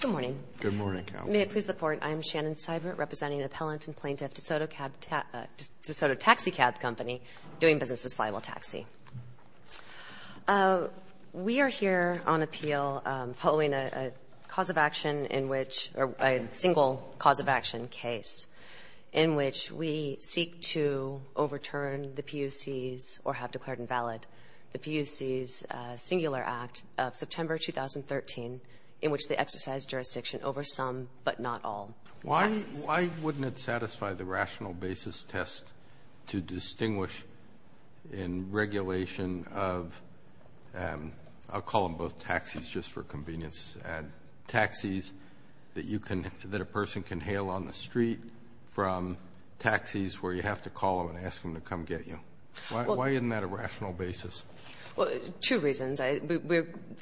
Good morning. Good morning, Carol. May it please the Court, I am Shannon Seibert, representing an appellant and plaintiff, DeSoto Taxi Cab Company, doing business as Flywheel Taxi. We are here on appeal following a cause of action in which, or a single cause of action case, in which we seek to overturn the PUC's, or have declared invalid, the PUC's singular act of September 2013, in which they exercised jurisdiction over some, but not all, taxis. Roberts, why wouldn't it satisfy the rational basis test to distinguish in regulation of, I'll call them both taxis just for convenience, taxis that you can, that a person can hail on the street from taxis where you have to call them and ask them to come get you? Why isn't that a rational basis? Well, two reasons.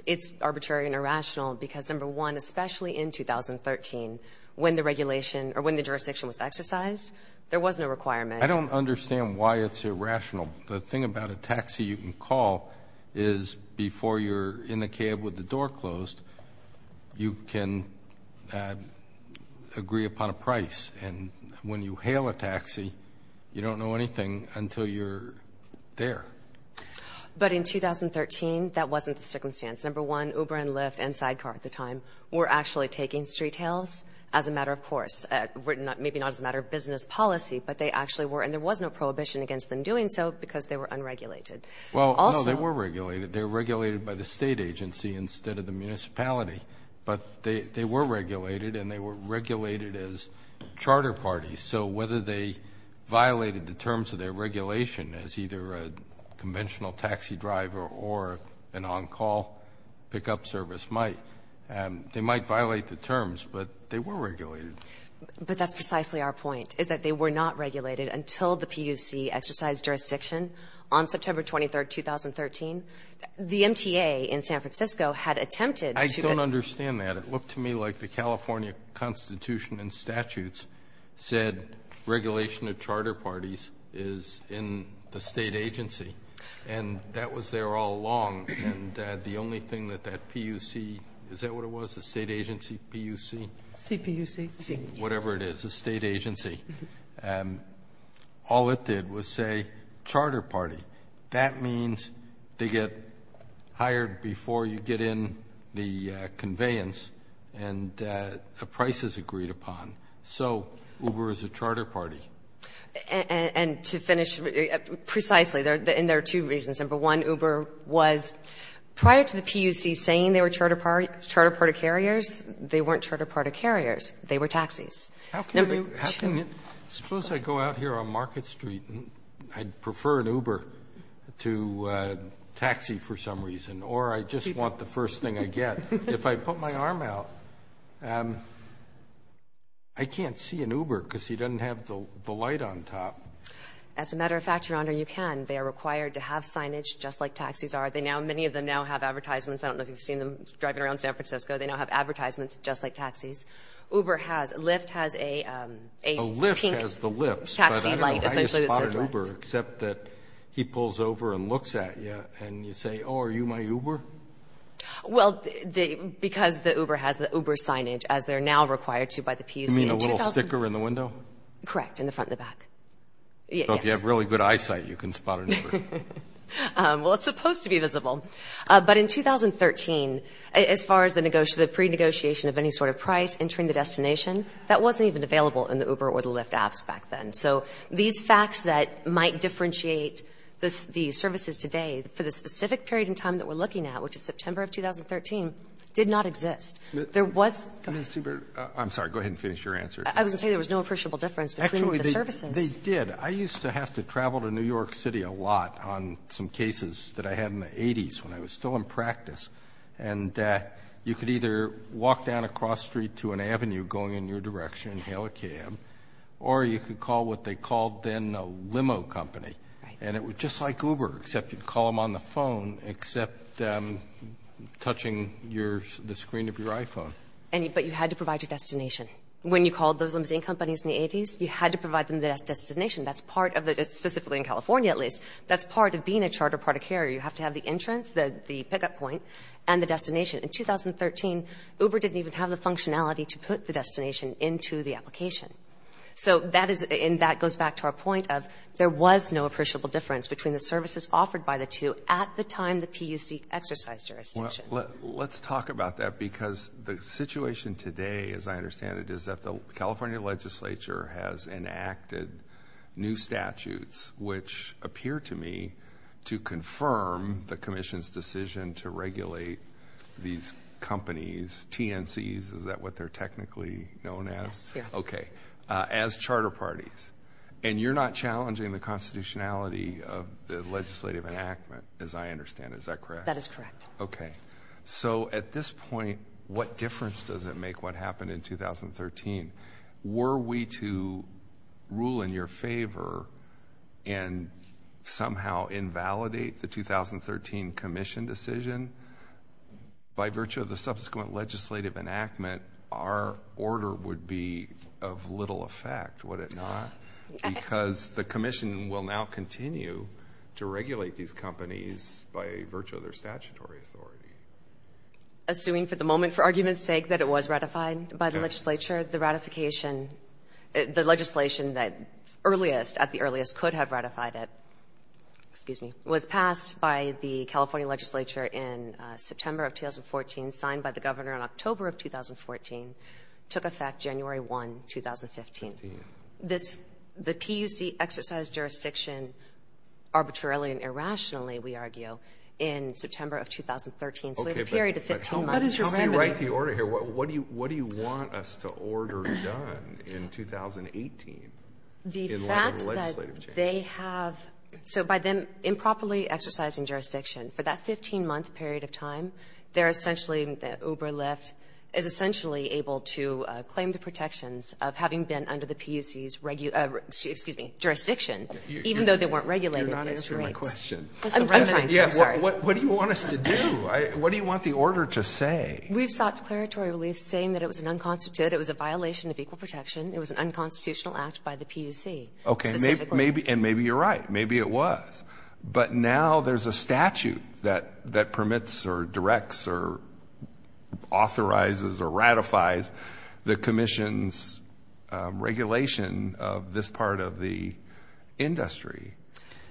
It's arbitrary and irrational because, number one, especially in 2013, when the regulation or when the jurisdiction was exercised, there was no requirement. I don't understand why it's irrational. The thing about a taxi you can call is before you're in the cab with the door closed, you can agree upon a price. And when you hail a taxi, you don't know anything until you're there. But in 2013, that wasn't the circumstance. Number one, Uber and Lyft and Sidecar at the time were actually taking street hails as a matter of course, maybe not as a matter of business policy, but they actually were, and there was no prohibition against them doing so because they were unregulated. Well, no, they were regulated. They were regulated by the State agency instead of the municipality. But they were regulated, and they were regulated as charter parties. So whether they violated the terms of their regulation as either a conventional taxi driver or an on-call pickup service might, they might violate the terms, but they were regulated. But that's precisely our point, is that they were not regulated until the PUC exercised jurisdiction on September 23, 2013. I don't understand that. It looked to me like the California Constitution and statutes said regulation of charter parties is in the state agency. And that was there all along, and the only thing that that PUC, is that what it was, a state agency, PUC? CPUC. Whatever it is, a state agency. All it did was say charter party. That means they get hired before you get in the conveyance, and a price is agreed upon. So Uber is a charter party. And to finish precisely, and there are two reasons. Number one, Uber was, prior to the PUC saying they were charter party carriers, they weren't charter party carriers. They were taxis. Number two. Suppose I go out here on Market Street, and I prefer an Uber to a taxi for some reason. Or I just want the first thing I get. If I put my arm out, I can't see an Uber because he doesn't have the light on top. As a matter of fact, Your Honor, you can. They are required to have signage just like taxis are. They now, many of them now have advertisements. I don't know if you've seen them driving around San Francisco. They now have advertisements just like taxis. Uber has. Lyft has a pink taxi light essentially that says Lyft. I just spot an Uber, except that he pulls over and looks at you, and you say, oh, are you my Uber? Well, because the Uber has the Uber signage, as they're now required to by the PUC. You mean the little sticker in the window? Correct. In the front and the back. Yes. So if you have really good eyesight, you can spot an Uber. Well, it's supposed to be visible. But in 2013, as far as the pre-negotiation of any sort of price entering the destination, that wasn't even available in the Uber or the Lyft apps back then. So these facts that might differentiate the services today for the specific period in time that we're looking at, which is September of 2013, did not exist. There was go ahead. I'm sorry. Go ahead and finish your answer. I was going to say there was no appreciable difference between the services. Actually, they did. I used to have to travel to New York City a lot on some cases that I had in the 80s when I was still in practice. And you could either walk down a cross street to an avenue going in your direction, hail a cab, or you could call what they called then a limo company. And it was just like Uber, except you'd call them on the phone, except touching the screen of your iPhone. But you had to provide your destination. When you called those limousine companies in the 80s, you had to provide them the destination. That's part of the, specifically in California at least, that's part of being a charter product carrier. You have to have the entrance, the pickup point, and the destination. In 2013, Uber didn't even have the functionality to put the destination into the application. So that is, and that goes back to our point of there was no appreciable difference between the services offered by the two at the time the PUC exercised jurisdiction. Well, let's talk about that because the situation today, as I understand it, is that the California legislature has enacted new statutes, which appear to me to confirm the commission's decision to regulate these companies, TNCs, is that what they're technically known as? Yes. Okay. As charter parties. And you're not challenging the constitutionality of the legislative enactment, as I understand it. Is that correct? That is correct. Okay. So at this point, what difference does it make what happened in 2013? Were we to rule in your favor and somehow invalidate the 2013 commission decision, by virtue of the subsequent legislative enactment, our order would be of little effect, would it not? Because the commission will now continue to regulate these companies by virtue of their statutory authority. Assuming for the moment, for argument's sake, that it was ratified by the legislature, the ratification, the legislation that earliest, at the earliest, could have ratified it, excuse me, was passed by the California legislature in September of 2014, signed by the governor in October of 2014, took effect January 1, 2015. Fifteen. This, the PUC exercised jurisdiction arbitrarily and irrationally, we argue, in September of 2013. So a period of 15 months. Okay, but tell me, let me write the order here. What do you want us to order done in 2018 in light of legislative change? The fact that they have, so by them improperly exercising jurisdiction, for that 15-month period of time, they're essentially, Uber Lyft is essentially able to claim the protections of having been under the PUC's, excuse me, jurisdiction, even though they weren't regulated. You're not answering my question. I'm trying to, I'm sorry. What do you want us to do? What do you want the order to say? We've sought declaratory relief saying that it was an unconstituted, it was a violation of equal protection, it was an unconstitutional act by the PUC. Okay, and maybe you're right, maybe it was. But now there's a statute that permits or directs or authorizes or ratifies the commission's regulation of this part of the industry.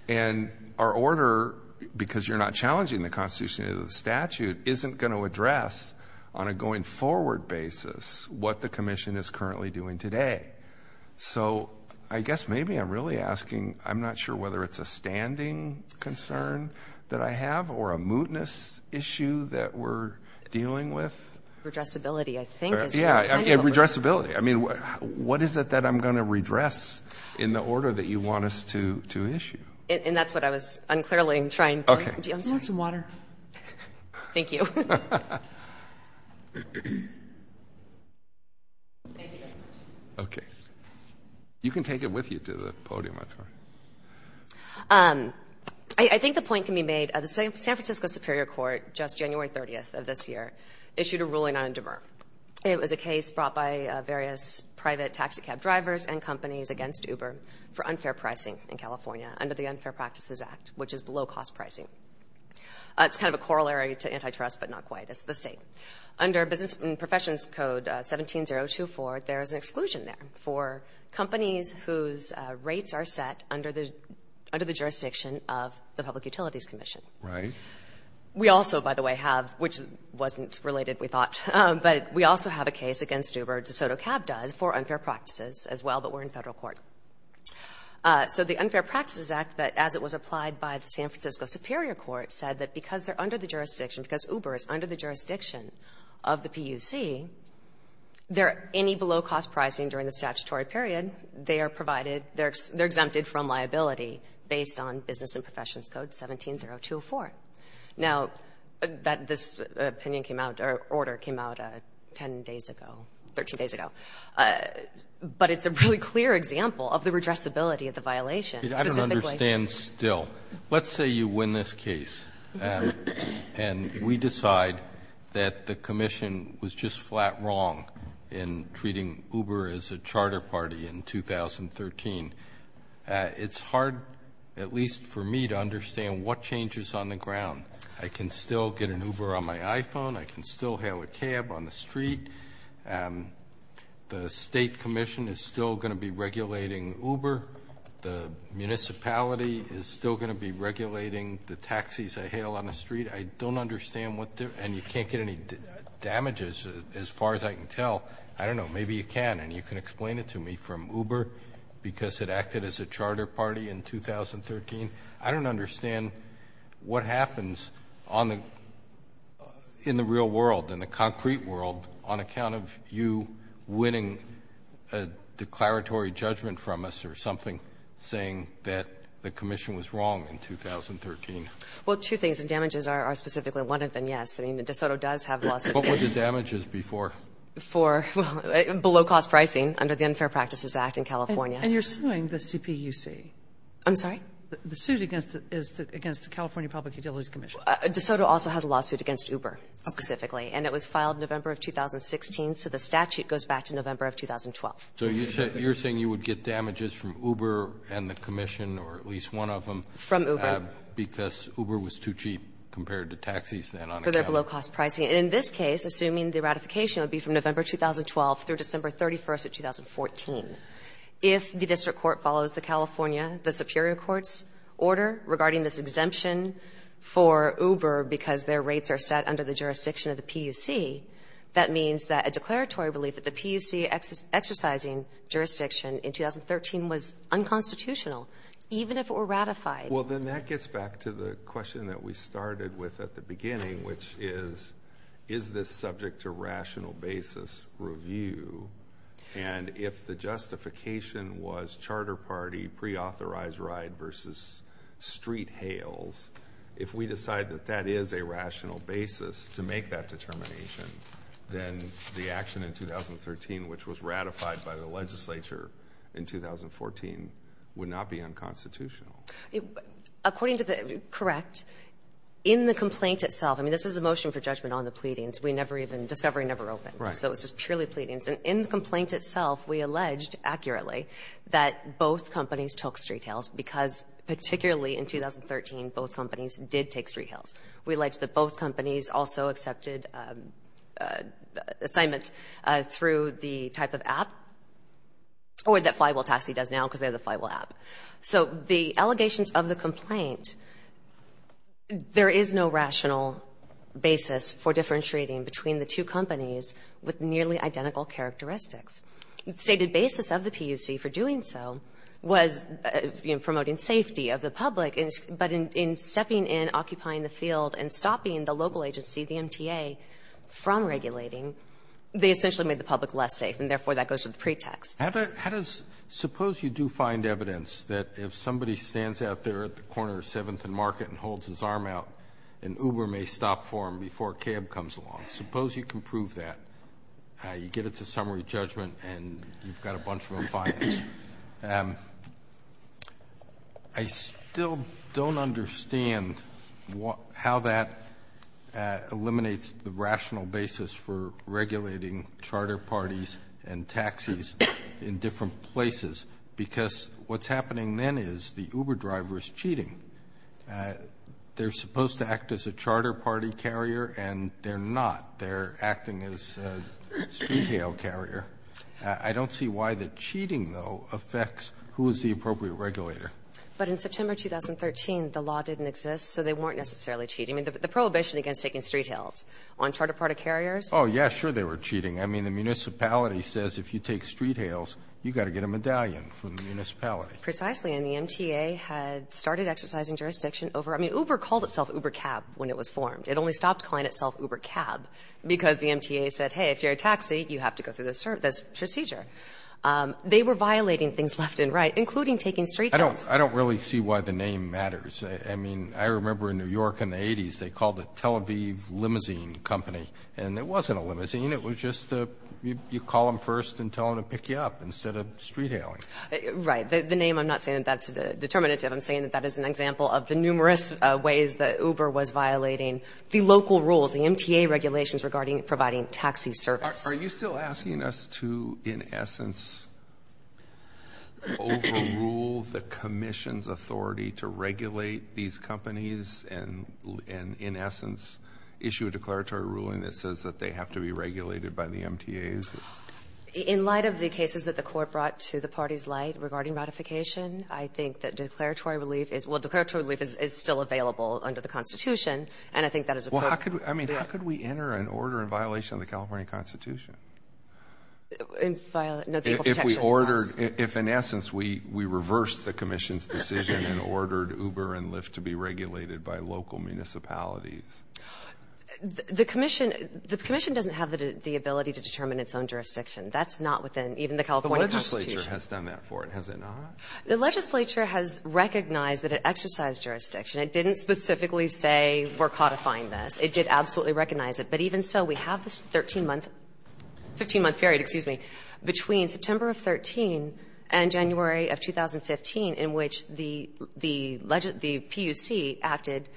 And our order, because you're not challenging the constitution of the statute, isn't going to address on a going forward basis what the commission is currently doing today. So I guess maybe I'm really asking, I'm not sure whether it's a standing concern that I have or a mootness issue that we're dealing with. Redressability, I think. Yeah, redressability. I mean, what is it that I'm going to redress in the order that you want us to issue? And that's what I was unclearly trying to answer. Okay. Do you want some water? Thank you. Thank you very much. Okay. You can take it with you to the podium, I'm sorry. I think the point can be made, the San Francisco Superior Court, just January 30th of this year, issued a ruling on Indemur. It was a case brought by various private taxicab drivers and companies against Uber for unfair pricing in California under the Unfair Practices Act, which is below-cost pricing. It's kind of a corollary to antitrust, but not quite. It's the State. Under Business and Professions Code 17-024, there is an exclusion there for companies whose rates are set under the jurisdiction of the Public Utilities Commission. Right. We also, by the way, have, which wasn't related, we thought, but we also have a case against Uber, DeSoto Cab does, for unfair practices as well, but we're in Federal court. So the Unfair Practices Act, as it was applied by the San Francisco Superior Court, said that because they're under the jurisdiction, because Uber is under the jurisdiction of the PUC, there are any below-cost pricing during the statutory period, they are provided, they're exempted from liability based on Business and Professions Code 17-024. Now, that this opinion came out, or order came out 10 days ago, 13 days ago, but it's a really clear example of the redressability of the violation. Specifically ---- Roberts, I don't understand still. Let's say you win this case, and we decide that the commission was just flat wrong in treating Uber as a charter party in 2013. It's hard, at least for me, to understand what changes on the ground. I can still get an Uber on my iPhone. I can still hail a cab on the street. The state commission is still going to be regulating Uber. The municipality is still going to be regulating the taxis I hail on the street. I don't understand what the ---- and you can't get any damages, as far as I can tell. I don't know. Maybe you can, and you can explain it to me from Uber, because it acted as a charter party in 2013. I don't understand what happens on the ---- in the real world, in the concrete world, on account of you winning a declaratory judgment from us or something saying that the commission was wrong in 2013. Well, two things, and damages are specifically one of them, yes. I mean, DeSoto does have lawsuits. What were the damages before? Before, well, below-cost pricing under the Unfair Practices Act in California. And you're suing the CPUC. I'm sorry? The suit against the California Public Utilities Commission. DeSoto also has a lawsuit against Uber specifically, and it was filed November of 2016, so the statute goes back to November of 2012. So you're saying you would get damages from Uber and the commission or at least one of them? From Uber. Because Uber was too cheap compared to taxis, then, on account of it. For their below-cost pricing. And in this case, assuming the ratification would be from November 2012 through December 31st of 2014, if the district court follows the California, the superior court's order regarding this exemption for Uber because their rates are set under the jurisdiction of the PUC, that means that a declaratory relief at the PUC exercising jurisdiction in 2013 was unconstitutional, even if it were ratified. Well, then that gets back to the question that we started with at the beginning, which is, is this subject to rational basis review? And if the justification was charter party pre-authorized ride versus street hails, if we decide that that is a rational basis to make that determination, then the action in 2013, which was ratified by the legislature in 2014, would not be unconstitutional. According to the correct, in the complaint itself, I mean, this is a motion for judgment on the pleadings. We never even, discovery never opened. Right. So it's just purely pleadings. And in the complaint itself, we alleged accurately that both companies took street hails because, particularly in 2013, both companies did take street hails. We alleged that both companies also accepted assignments through the type of app or that Flywheel Taxi does now because they have the Flywheel app. So the allegations of the complaint, there is no rational basis for differentiating between the two companies with nearly identical characteristics. The stated basis of the PUC for doing so was, you know, promoting safety of the public. But in stepping in, occupying the field, and stopping the local agency, the MTA, from regulating, they essentially made the public less safe. And therefore, that goes to the pretext. How does, suppose you do find evidence that if somebody stands out there at the corner of 7th and Market and holds his arm out, an Uber may stop for him before a cab comes along. Suppose you can prove that. You get it to summary judgment, and you've got a bunch of appliances. I still don't understand how that eliminates the rational basis for regulating charter parties and taxis in different places. Because what's happening then is the Uber driver is cheating. They're supposed to act as a charter party carrier, and they're not. They're acting as a street hail carrier. I don't see why the cheating, though, affects who is the appropriate regulator. But in September 2013, the law didn't exist, so they weren't necessarily cheating. I mean, the prohibition against taking street hails on charter party carriers? Oh, yeah, sure they were cheating. I mean, the municipality says if you take street hails, you've got to get a medallion from the municipality. Precisely. And the MTA had started exercising jurisdiction over it. I mean, Uber called itself Uber Cab when it was formed. It only stopped calling itself Uber Cab because the MTA said, hey, if you're a taxi, you have to go through this procedure. They were violating things left and right, including taking street hails. I don't really see why the name matters. I mean, I remember in New York in the 80s, they called it Tel Aviv Limousine Company. And it wasn't a limousine. It was just you call them first and tell them to pick you up instead of street hailing. Right. The name, I'm not saying that that's determinative. I'm saying that that is an example of the numerous ways that Uber was violating the local rules, the MTA regulations regarding providing taxi service. Are you still asking us to, in essence, overrule the commission's authority to regulate these companies and, in essence, issue a declaratory ruling that says that they have to be regulated by the MTAs? In light of the cases that the Court brought to the party's light regarding ratification, I think that declaratory relief is still available under the Constitution. And I think that is appropriate. I mean, how could we enter an order in violation of the California Constitution? In violation of the Equal Protection Act. If we ordered, if in essence we reversed the commission's decision and ordered Uber and Lyft to be regulated by local municipalities. The commission doesn't have the ability to determine its own jurisdiction. That's not within even the California Constitution. The legislature has done that for it, has it not? The legislature has recognized that it exercised jurisdiction. It didn't specifically say we're codifying this. It did absolutely recognize it. But even so, we have this 13-month, 15-month period, excuse me, between September of 13 and January of 2015, in which the legend, the PUC acted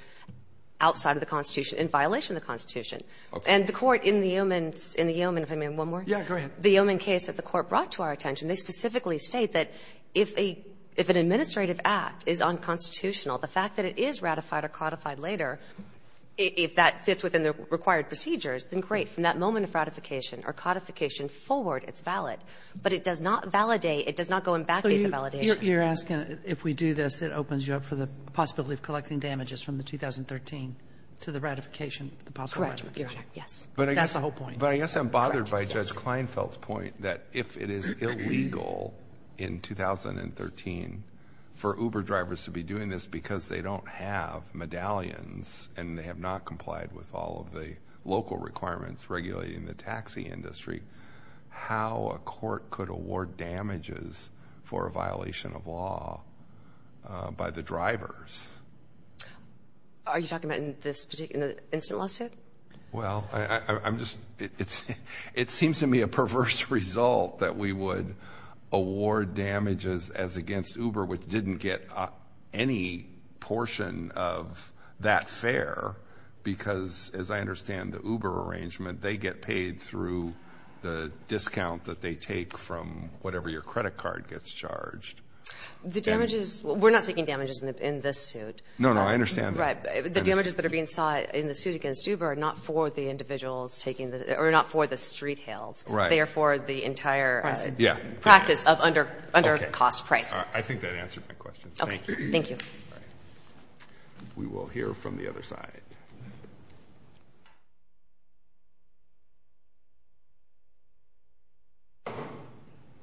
outside of the Constitution, in violation of the Constitution. And the Court in the Yeoman, if I may, one more? The Yeoman case that the Court brought to our attention, they specifically state that if an administrative act is unconstitutional, the fact that it is ratified or codified later, if that fits within the required procedures, then great. From that moment of ratification or codification forward, it's valid. But it does not validate, it does not go and vacate the validation. So you're asking if we do this, it opens you up for the possibility of collecting damages from the 2013 to the ratification of the possible ratification? Correct, Your Honor. Yes. That's the whole point. But I guess I'm bothered by Judge Kleinfeld's point that if it is illegal in 2013 for Uber drivers to be doing this because they don't have medallions and they have not complied with all of the local requirements regulating the taxi industry, how a court could award damages for a violation of law by the drivers? Are you talking about in this particular, in the instant lawsuit? Well, I'm just, it seems to me a perverse result that we would award damages as because, as I understand, the Uber arrangement, they get paid through the discount that they take from whatever your credit card gets charged. The damages, we're not seeking damages in this suit. No, no, I understand. Right. The damages that are being sought in the suit against Uber are not for the individuals taking the, or not for the street hails. Right. They are for the entire practice of under-cost pricing. I think that answers my question. Thank you. Thank you. All right. We will hear from the other side.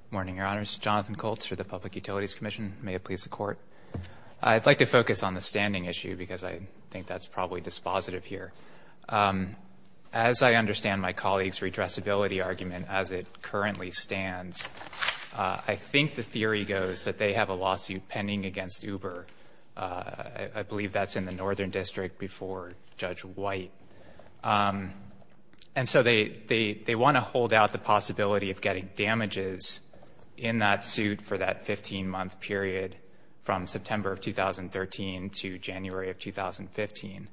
Morning, Your Honors. Jonathan Colts for the Public Utilities Commission. May it please the Court. I'd like to focus on the standing issue because I think that's probably dispositive here. As I understand my colleague's redressability argument as it currently stands, I think the theory goes that they have a lawsuit pending against Uber. I believe that's in the Northern District before Judge White. And so they want to hold out the possibility of getting damages in that suit for that 15-month period from September of 2013 to January of 2015.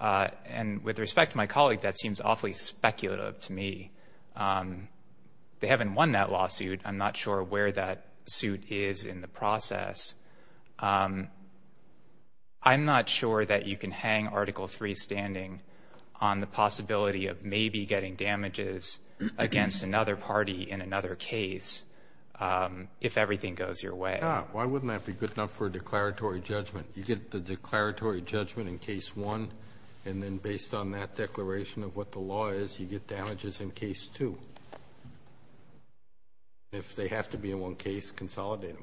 And with respect to my colleague, that seems awfully speculative to me. They haven't won that lawsuit. I'm not sure where that suit is in the process. I'm not sure that you can hang Article III standing on the possibility of maybe getting damages against another party in another case if everything goes your way. Why wouldn't that be good enough for a declaratory judgment? You get the declaratory judgment in Case 1, and then based on that declaration of what the law is, you get damages in Case 2. If they have to be in one case, consolidate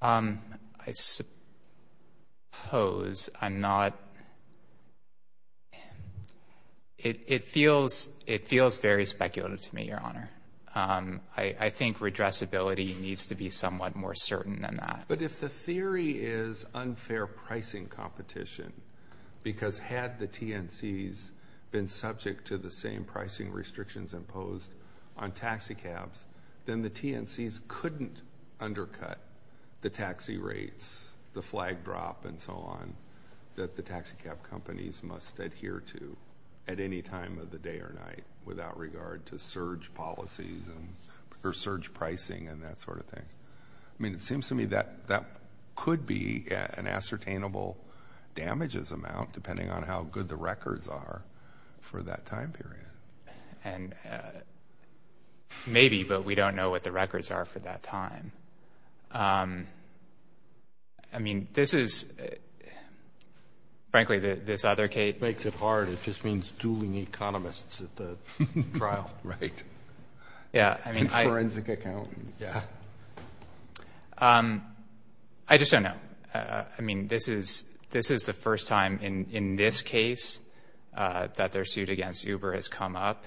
them. I suppose I'm not... It feels very speculative to me, Your Honor. I think redressability needs to be somewhat more certain than that. But if the theory is unfair pricing competition, because had the TNCs been subject to the same pricing restrictions imposed on taxicabs, then the TNCs couldn't undercut the taxi rates, the flag drop, and so on, that the taxicab companies must adhere to at any time of the day or night without regard to surge policies or surge pricing and that sort of thing. I mean, it seems to me that that could be an ascertainable damages amount depending on how good the records are for that time period. And maybe, but we don't know what the records are for that time. I mean, this is, frankly, this other case... It makes it hard. It just means dueling economists at the trial. Right. Yeah, I mean... And forensic accountants. Yeah. I just don't know. I mean, this is the first time in this case that their suit against Uber has come up.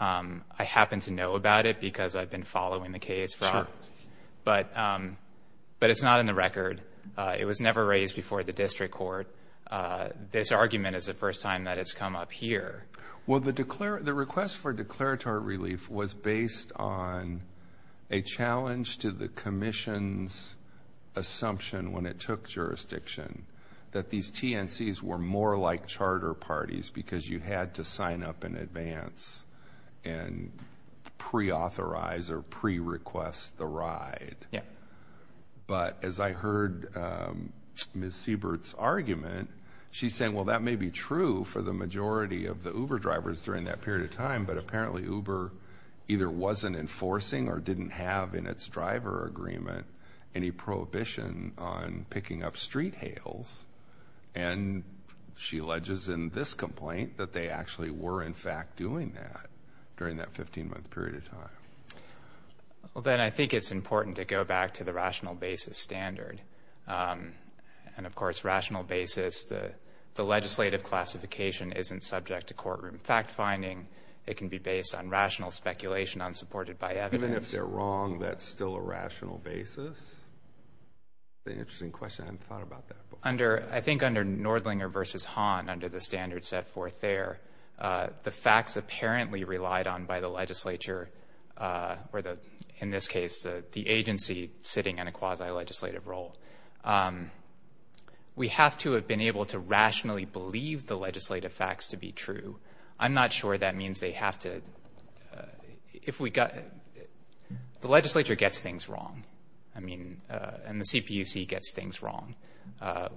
I happen to know about it because I've been following the case. Sure. But it's not in the record. It was never raised before the district court. This argument is the first time that it's come up here. Well, the request for declaratory relief was based on a challenge to the commission's assumption when it took jurisdiction that these TNCs were more like charter parties because you had to sign up in advance and pre-authorize or pre-request the ride. Yeah. But as I heard Ms. Siebert's argument, she's saying, well, that may be true for the majority of the Uber drivers during that period of time, but apparently Uber either wasn't enforcing or didn't have in its driver agreement any prohibition on picking up street hails. And she alleges in this complaint that they actually were, in fact, doing that during that 15-month period of time. Well, then I think it's important to go back to the rational basis standard. And, of course, rational basis, the legislative classification isn't subject to courtroom fact-finding. It can be based on rational speculation unsupported by evidence. Even if they're wrong, that's still a rational basis? That's an interesting question. I hadn't thought about that before. I think under Nordlinger v. Hahn, under the standard set forth there, the facts apparently relied on by the legislature or, in this case, the agency sitting in a quasi-legislative role. We have to have been able to rationally believe the legislative facts to be true. I'm not sure that means they have to. The legislature gets things wrong. I mean, and the CPUC gets things wrong.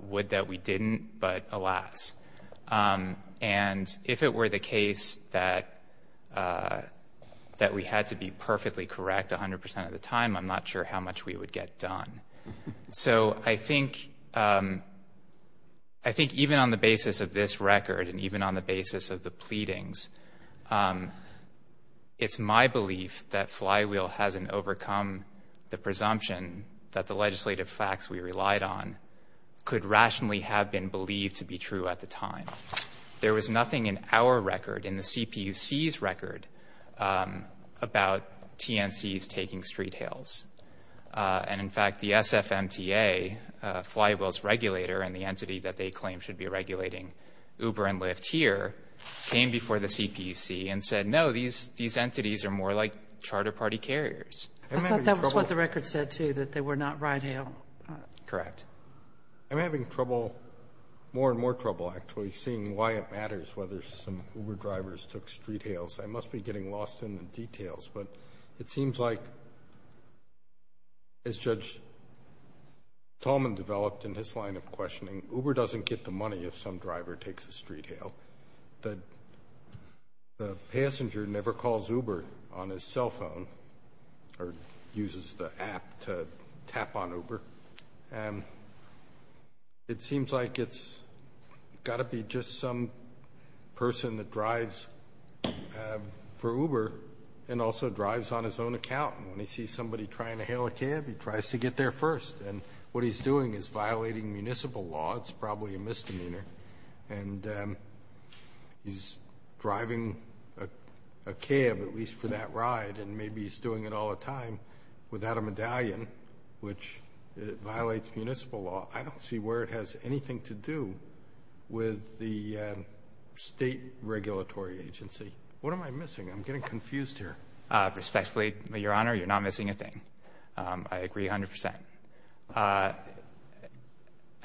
Would that we didn't, but alas. And if it were the case that we had to be perfectly correct 100% of the time, I'm not sure how much we would get done. So I think even on the basis of this record and even on the basis of the pleadings, it's my belief that Flywheel hasn't overcome the presumption that the legislative facts we relied on could rationally have been believed to be true at the time. There was nothing in our record, in the CPUC's record, about TNCs taking street hails. And, in fact, the SFMTA, Flywheel's regulator, and the entity that they claim should be regulating Uber and Lyft here, came before the CPUC and said, no, these entities are more like charter party carriers. I thought that was what the record said, too, that they were not ride hail. Correct. I'm having trouble, more and more trouble, actually, seeing why it matters whether some Uber drivers took street hails. I must be getting lost in the details. But it seems like, as Judge Tallman developed in his line of questioning, Uber doesn't get the money if some driver takes a street hail. The passenger never calls Uber on his cell phone or uses the app to tap on Uber. It seems like it's got to be just some person that drives for Uber and also drives on his own account. And when he sees somebody trying to hail a cab, he tries to get there first. And what he's doing is violating municipal law. It's probably a misdemeanor. And he's driving a cab, at least for that ride, and maybe he's doing it all the time without a medallion, which violates municipal law. I don't see where it has anything to do with the state regulatory agency. What am I missing? I'm getting confused here. Respectfully, Your Honor, you're not missing a thing. I agree 100%.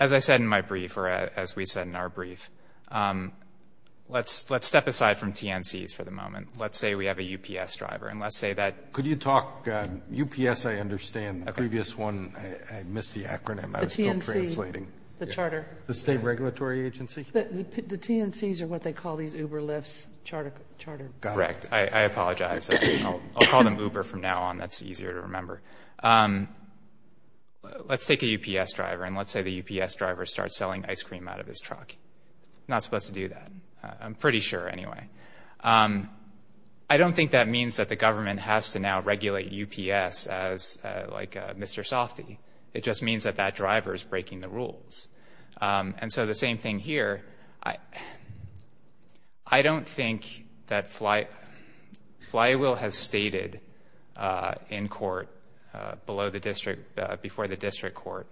As I said in my brief, or as we said in our brief, let's step aside from TNCs for the moment. Let's say we have a UPS driver. And let's say that— Could you talk—UPS, I understand. In the previous one, I missed the acronym. I was still translating. The TNC. The charter. The state regulatory agency. The TNCs are what they call these Uber Lyfts. Charter. Correct. I apologize. I'll call them Uber from now on. That's easier to remember. Let's take a UPS driver, and let's say the UPS driver starts selling ice cream out of his truck. Not supposed to do that. I'm pretty sure anyway. I don't think that means that the government has to now regulate UPS as, like, Mr. Softee. It just means that that driver is breaking the rules. And so the same thing here. I don't think that Flywheel has stated in court below the district, before the district court,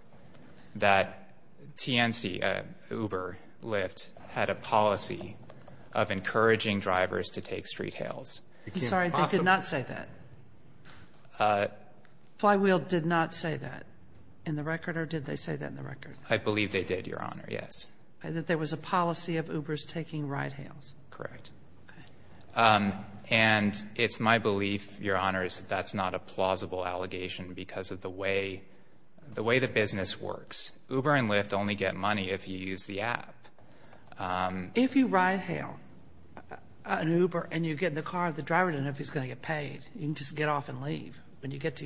that TNC, Uber, Lyft, had a policy of encouraging drivers to take street hails. I'm sorry. They did not say that. Flywheel did not say that in the record? Or did they say that in the record? I believe they did, Your Honor, yes. That there was a policy of Ubers taking ride hails? Correct. Okay. And it's my belief, Your Honor, that that's not a plausible allegation because of the way the business works. Uber and Lyft only get money if you use the app. If you ride hail an Uber and you get in the car, the driver doesn't know if he's going to get paid. You can just get off and leave when you get to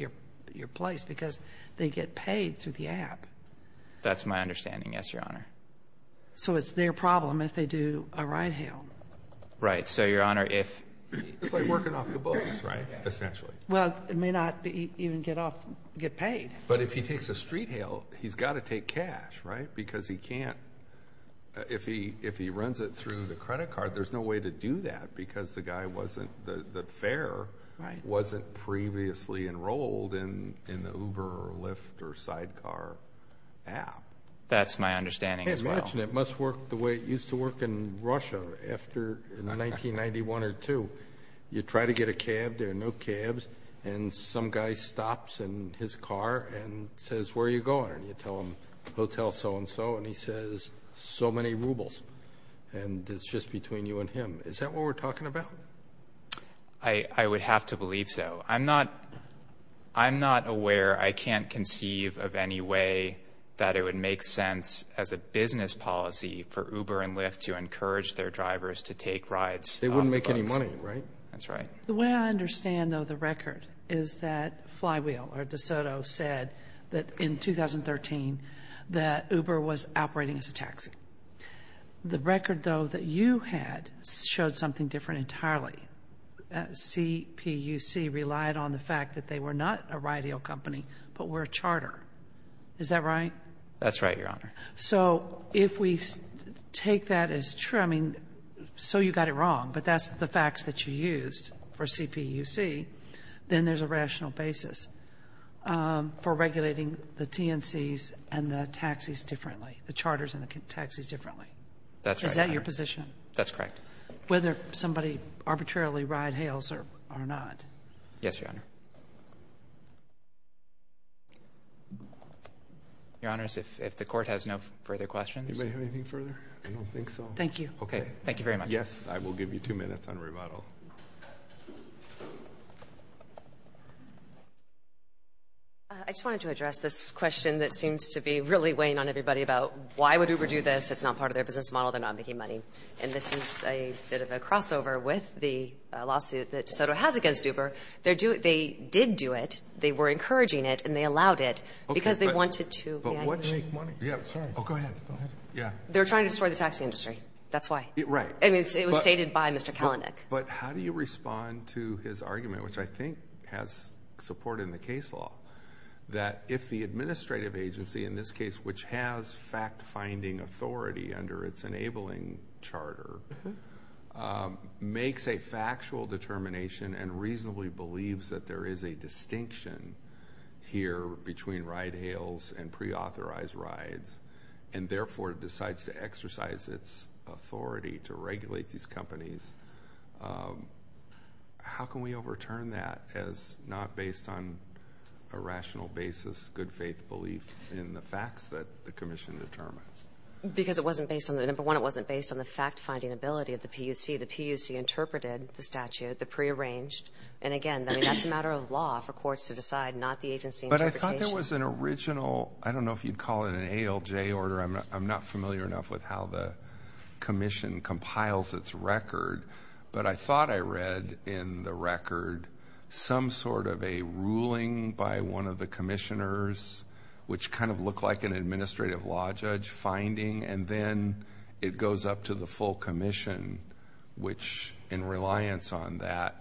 your place because they get paid through the app. That's my understanding, yes, Your Honor. So it's their problem if they do a ride hail. Right. So, Your Honor, if— It's like working off the books, right? Essentially. Well, it may not even get paid. But if he takes a street hail, he's got to take cash, right? Because he can't— if he runs it through the credit card, there's no way to do that because the guy wasn't— the fare wasn't previously enrolled in the Uber or Lyft or sidecar app. That's my understanding as well. Hey, imagine it must work the way it used to work in Russia after 1991 or 2. You try to get a cab. There are no cabs. And some guy stops in his car and says, Where are you going? And you tell him, Hotel so-and-so. And he says, So many rubles. And it's just between you and him. Is that what we're talking about? I would have to believe so. I'm not— I'm not aware— I can't conceive of any way that it would make sense as a business policy for Uber and Lyft to encourage their drivers to take rides off the books. They wouldn't make any money, right? That's right. The way I understand, though, the record is that Flywheel or DeSoto said that in 2013 that Uber was operating as a taxi. The record, though, that you had showed something different entirely. CPUC relied on the fact that they were not a ride-ale company, but were a charter. Is that right? That's right, Your Honor. So if we take that as true— I mean, so you got it wrong, but that's the facts that you used for CPUC, then there's a rational basis for regulating the TNCs and the taxis differently, the charters and the taxis differently. That's right, Your Honor. Is that your position? That's correct. Whether somebody arbitrarily ride-hails or not. Yes, Your Honor. Your Honors, if the Court has no further questions— Anybody have anything further? I don't think so. Thank you. Okay. Thank you very much. Yes. I will give you two minutes on rebuttal. I just wanted to address this question that seems to be really weighing on everybody about why would Uber do this. It's not part of their business model. They're not making money. And this is a bit of a crossover with the lawsuit that DeSoto has against Uber. They did do it. They were encouraging it, and they allowed it because they wanted to— But what— Make money? Yeah. Oh, go ahead. Yeah. They're trying to destroy the taxi industry. That's why. Right. I mean, it was stated by Mr. Kalanick. But how do you respond to his argument, which I think has support in the case law, that if the administrative agency, in this case, which has fact-finding authority under its enabling charter, makes a factual determination and reasonably believes that there is a distinction here between ride hails and preauthorized rides, and therefore decides to exercise its authority to regulate these companies, how can we overturn that as not based on a rational basis, good-faith belief in the facts that the commission determines? Because it wasn't based on— Number one, it wasn't based on the fact-finding ability of the PUC. The PUC interpreted the statute, the prearranged. And again, that's a matter of law for courts to decide, not the agency interpretation. But I thought there was an original— I don't know if you'd call it an ALJ order. I'm not familiar enough with how the commission compiles its record. But I thought I read in the record some sort of a ruling by one of the commissioners, which kind of looked like an administrative law judge finding, and then it goes up to the full commission, which, in reliance on that,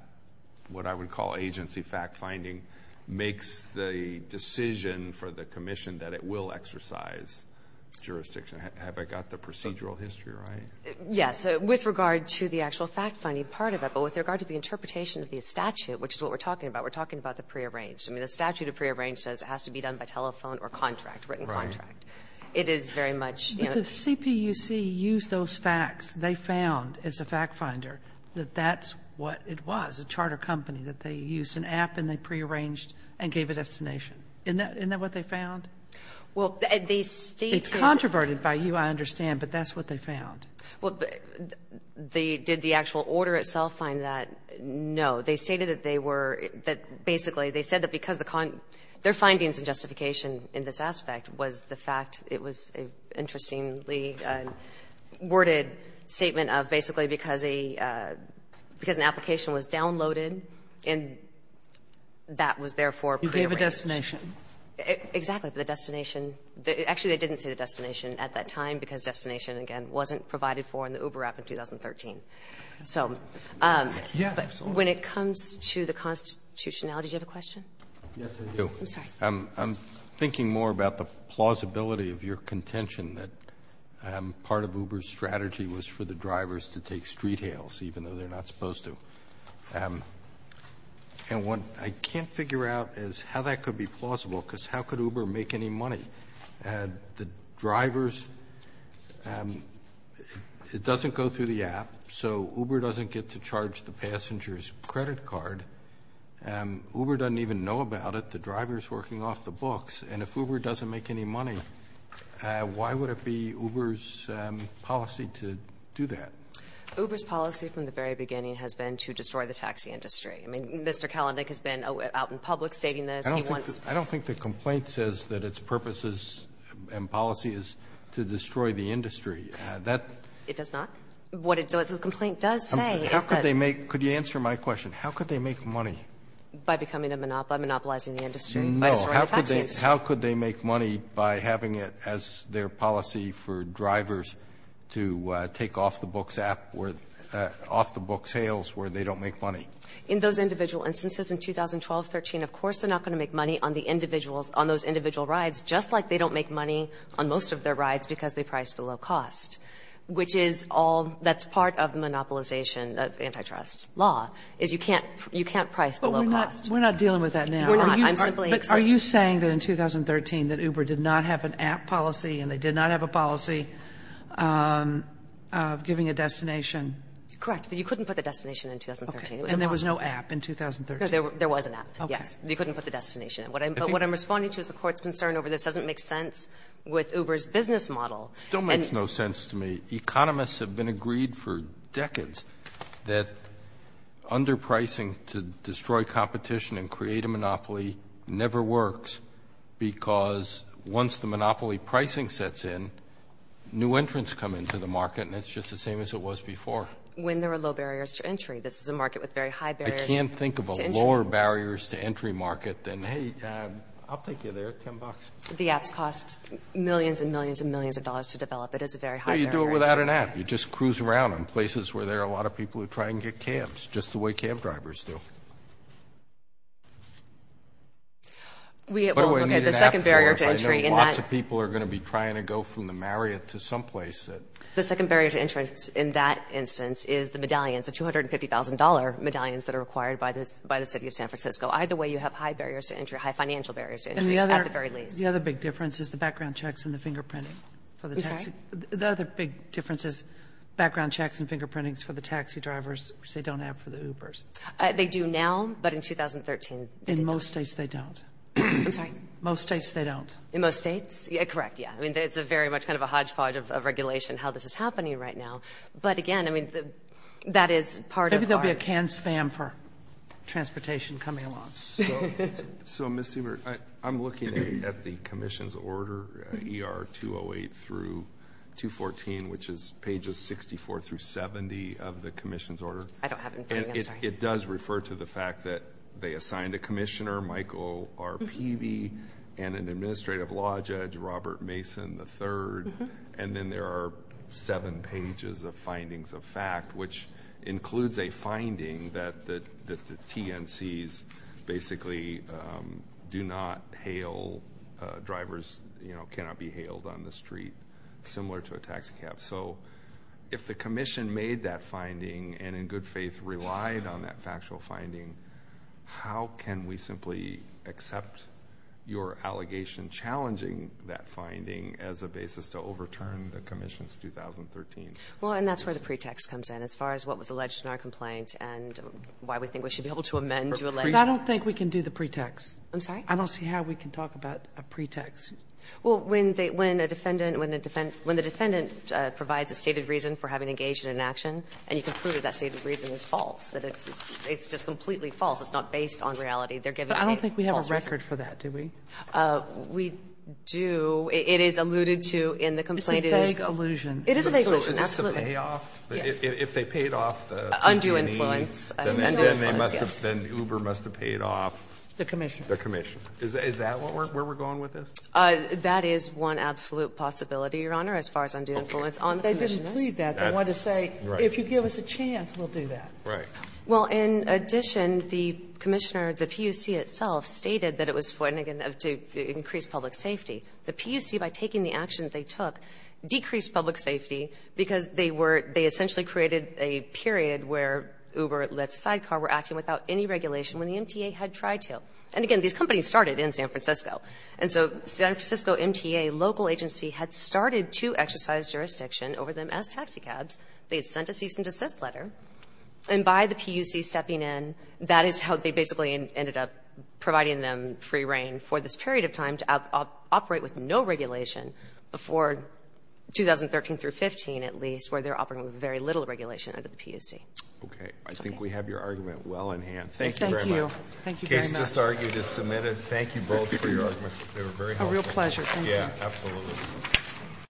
what I would call agency fact-finding, makes the decision for the commission that it will exercise jurisdiction. Have I got the procedural history right? Yes. With regard to the actual fact-finding part of it, but with regard to the interpretation of the statute, which is what we're talking about, we're talking about the prearranged. I mean, the statute of prearranged says it has to be done by telephone or contract, written contract. Right. It is very much, you know— But the CPUC used those facts. They found, as a fact-finder, that that's what it was, a charter company, that they used an app and they prearranged and gave a destination. Isn't that what they found? Well, they stated— It's controverted by you, I understand, but that's what they found. Well, did the actual order itself find that? No. They stated that they were — that basically they said that because the — their findings and justification in this aspect was the fact it was an interestingly worded statement of basically because an application was downloaded and that was therefore prearranged. You gave a destination. Exactly. The destination — actually, they didn't say the destination at that time because destination, again, wasn't provided for in the Uber app in 2013. So— Yeah, absolutely. When it comes to the constitutionality, do you have a question? Yes, I do. I'm sorry. I'm thinking more about the plausibility of your contention that part of Uber's strategy was for the drivers to take street hails, even though they're not supposed to. And what I can't figure out is how that could be plausible because how could Uber make any money? The drivers — it doesn't go through the app. So Uber doesn't get to charge the passenger's credit card. Uber doesn't even know about it. The driver's working off the books. And if Uber doesn't make any money, why would it be Uber's policy to do that? Uber's policy from the very beginning has been to destroy the taxi industry. I mean, Mr. Kalanick has been out in public stating this. I don't think the complaint says that its purposes and policy is to destroy the industry. That — It does not? What the complaint does say is that — How could they make — could you answer my question? How could they make money? By becoming a — by monopolizing the industry. No. By destroying the taxi industry. How could they make money by having it as their policy for drivers to take off the books app or off the book sales where they don't make money? In those individual instances in 2012-13, of course they're not going to make money on the individuals — on those individual rides just like they don't make money on most of their rides because they price below cost, which is all — that's part of the monopolization of antitrust law is you can't — you can't price below cost. But we're not — we're not dealing with that now. We're not. I'm simply — But are you saying that in 2013 that Uber did not have an app policy and they did not have a policy of giving a destination? Correct. You couldn't put the destination in 2013. And there was no app in 2013? There was an app, yes. You couldn't put the destination in. But what I'm responding to is the court's concern over this doesn't make sense with Uber's business model. It still makes no sense to me. Economists have been agreed for decades that underpricing to destroy competition and create a monopoly never works because once the monopoly pricing sets in, new entrants come into the market and it's just the same as it was before. When there are low barriers to entry. This is a market with very high barriers to entry. I can't think of a lower barriers to entry market than, hey, I'll take you there, 10 bucks. The apps cost millions and millions and millions of dollars to develop. It is a very high barrier. Well, you do it without an app. You just cruise around on places where there are a lot of people who try and get cams, just the way cam drivers do. What do I need an app for? I know lots of people are going to be trying to go from the Marriott to someplace that — The second barrier to entrance in that instance is the medallions, the $250,000 medallions that are required by the City of San Francisco. Either way, you have high barriers to entry, high financial barriers to entry, at the very least. The other big difference is the background checks and the fingerprinting. I'm sorry? The other big difference is background checks and fingerprintings for the taxi drivers which they don't have for the Ubers. They do now, but in 2013, they didn't. In most states, they don't. I'm sorry? Most states, they don't. In most states? Correct, yeah. I mean, it's very much kind of a hodgepodge of regulation how this is happening right now. But again, I mean, that is part of our — transportation coming along. So, Ms. Siebert, I'm looking at the commission's order, ER 208 through 214, which is pages 64 through 70 of the commission's order. I don't have it in front of me. I'm sorry. It does refer to the fact that they assigned a commissioner, Michael R. Peavy, and an administrative law judge, Robert Mason III. And then there are seven pages of findings of fact, which includes a finding that the TNCs basically do not hail — drivers, you know, cannot be hailed on the street, similar to a taxicab. So, if the commission made that finding and, in good faith, relied on that factual finding, how can we simply accept your allegation challenging that finding as a basis to overturn the commission's 2013? Well, and that's where the pretext comes in. As far as what was alleged in our complaint and why we think we should be able to amend your allegation. But I don't think we can do the pretext. I'm sorry? I don't see how we can talk about a pretext. Well, when they — when a defendant — when the defendant provides a stated reason for having engaged in an action, and you can prove that that stated reason is false, that it's just completely false, it's not based on reality, they're giving a false reason. But I don't think we have a record for that, do we? We do. It is alluded to in the complaint. It's a vague allusion. It is a vague allusion, absolutely. If they paid off — if they paid off the — Undue influence. Undue influence, yes. Then Uber must have paid off the commission. The commission. Is that where we're going with this? That is one absolute possibility, Your Honor, as far as undue influence on the commissioners. They didn't plead that. They wanted to say, if you give us a chance, we'll do that. Right. Well, in addition, the commissioner, the PUC itself, stated that it was to increase public safety. The PUC, by taking the action that they took, decreased public safety because they were — they essentially created a period where Uber, Lyft, Sidecar were acting without any regulation when the MTA had tried to. And again, these companies started in San Francisco. And so, San Francisco MTA local agency had started to exercise jurisdiction over them as taxicabs. They had sent a cease and desist letter. And by the PUC stepping in, that is how they basically ended up providing them free rein for this period of time to operate with no regulation before 2013 through 15, at least, where they're operating with very little regulation under the PUC. Okay. I think we have your argument well in hand. Thank you very much. Thank you. Thank you very much. The case just argued is submitted. Thank you both for your arguments. They were very helpful. A real pleasure. Thank you.